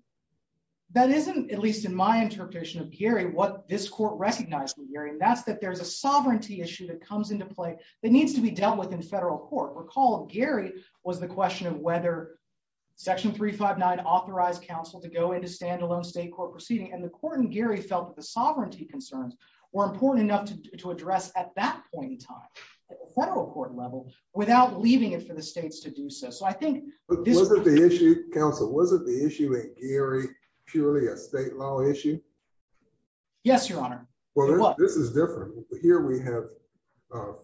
That isn't at least in my interpretation of Gary, what this court recognized in Gary, that's that there's a sovereignty issue that comes into play that needs to be dealt with in federal court. Recall Gary was the question of whether section 359 authorized counsel to go into standalone state court proceeding. And the court in Gary felt that the sovereignty concerns were important enough to address at that point in time, at the federal court level, without leaving it for the states to do so. So I think- But wasn't the issue, counsel, wasn't the issue in Gary purely a state law issue? Yes, Your Honor. Well, this is different. Here we have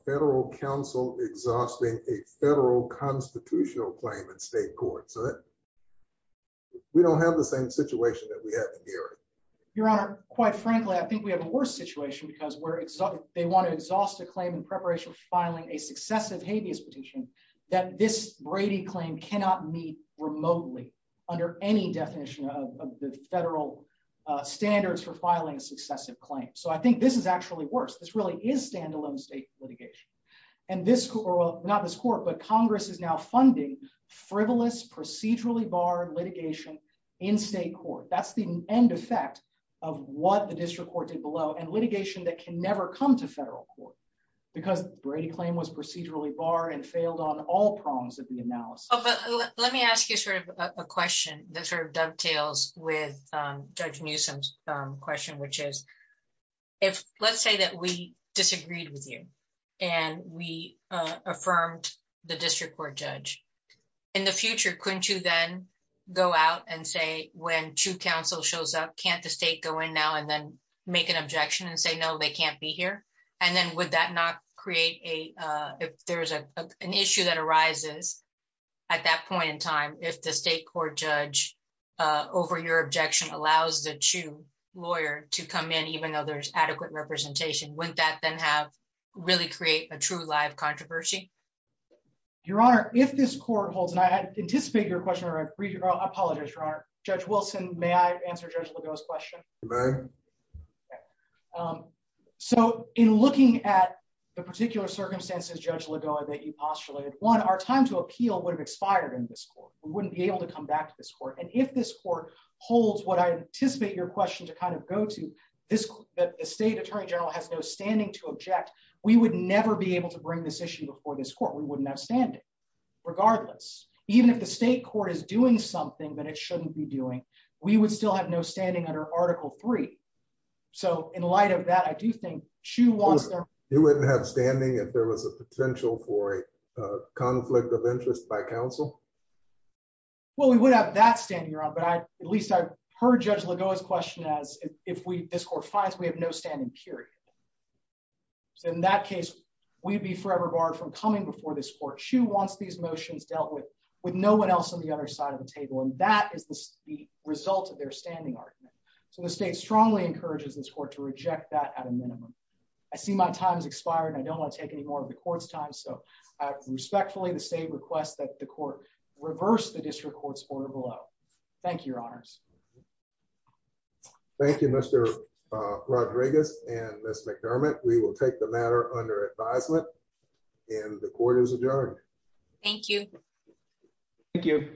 federal counsel exhausting a federal constitutional claim in state court. So we don't have the same situation that we have in Gary. Your Honor, quite frankly, I think we have a worse situation because we're they want to exhaust a claim in preparation for filing a successive habeas petition that this Brady claim cannot meet remotely under any definition of the federal standards for filing a successive claim. So I think this is actually worse. This really is standalone state litigation. And this, not this court, but Congress is now funding frivolous, procedurally barred litigation in state court. That's the end effect of what the district court did below and litigation that can never come to federal court because Brady claim was procedurally barred and failed on all prongs of the analysis. Oh, but let me ask you sort of a question that sort of dovetails with Judge Newsom's question, which is if let's say that we disagreed with you and we affirmed the district court judge, in the future, couldn't you then go out and say when two counsel shows up, can't the state go in now and then make an objection and say, no, they can't be here? And then would that not create a, if there's an issue that arises at that point in time, if the state court judge over your objection allows the two lawyer to come in, even though there's adequate representation, wouldn't that really create a true live controversy? Your Honor, if this court holds, and I anticipate your question, I apologize, Your Honor, Judge Wilson, may I answer Judge Legault's question? So in looking at the particular circumstances, Judge Legault, that you postulated, one, our time to appeal would have expired in this court. We wouldn't be able to come back to this court. And if this court holds what I anticipate your question to kind of go to, that the state attorney general has no standing to object, we would never be able to bring this issue before this court. We wouldn't have standing, regardless. Even if the state court is doing something that it shouldn't be doing, we would still have no standing under Article III. So in light of that, I do think Chu wants their- You wouldn't have standing if there was a potential for a conflict of interest by counsel? Well, we would have that standing, Your Honor, but at least I this court finds we have no standing, period. So in that case, we'd be forever barred from coming before this court. Chu wants these motions dealt with with no one else on the other side of the table, and that is the result of their standing argument. So the state strongly encourages this court to reject that at a minimum. I see my time has expired, and I don't want to take any more of the court's time, so I respectfully, the state requests that the court reverse the district order below. Thank you, Your Honors. Thank you, Mr. Rodriguez and Ms. McDermott. We will take the matter under advisement, and the court is adjourned. Thank you. Thank you.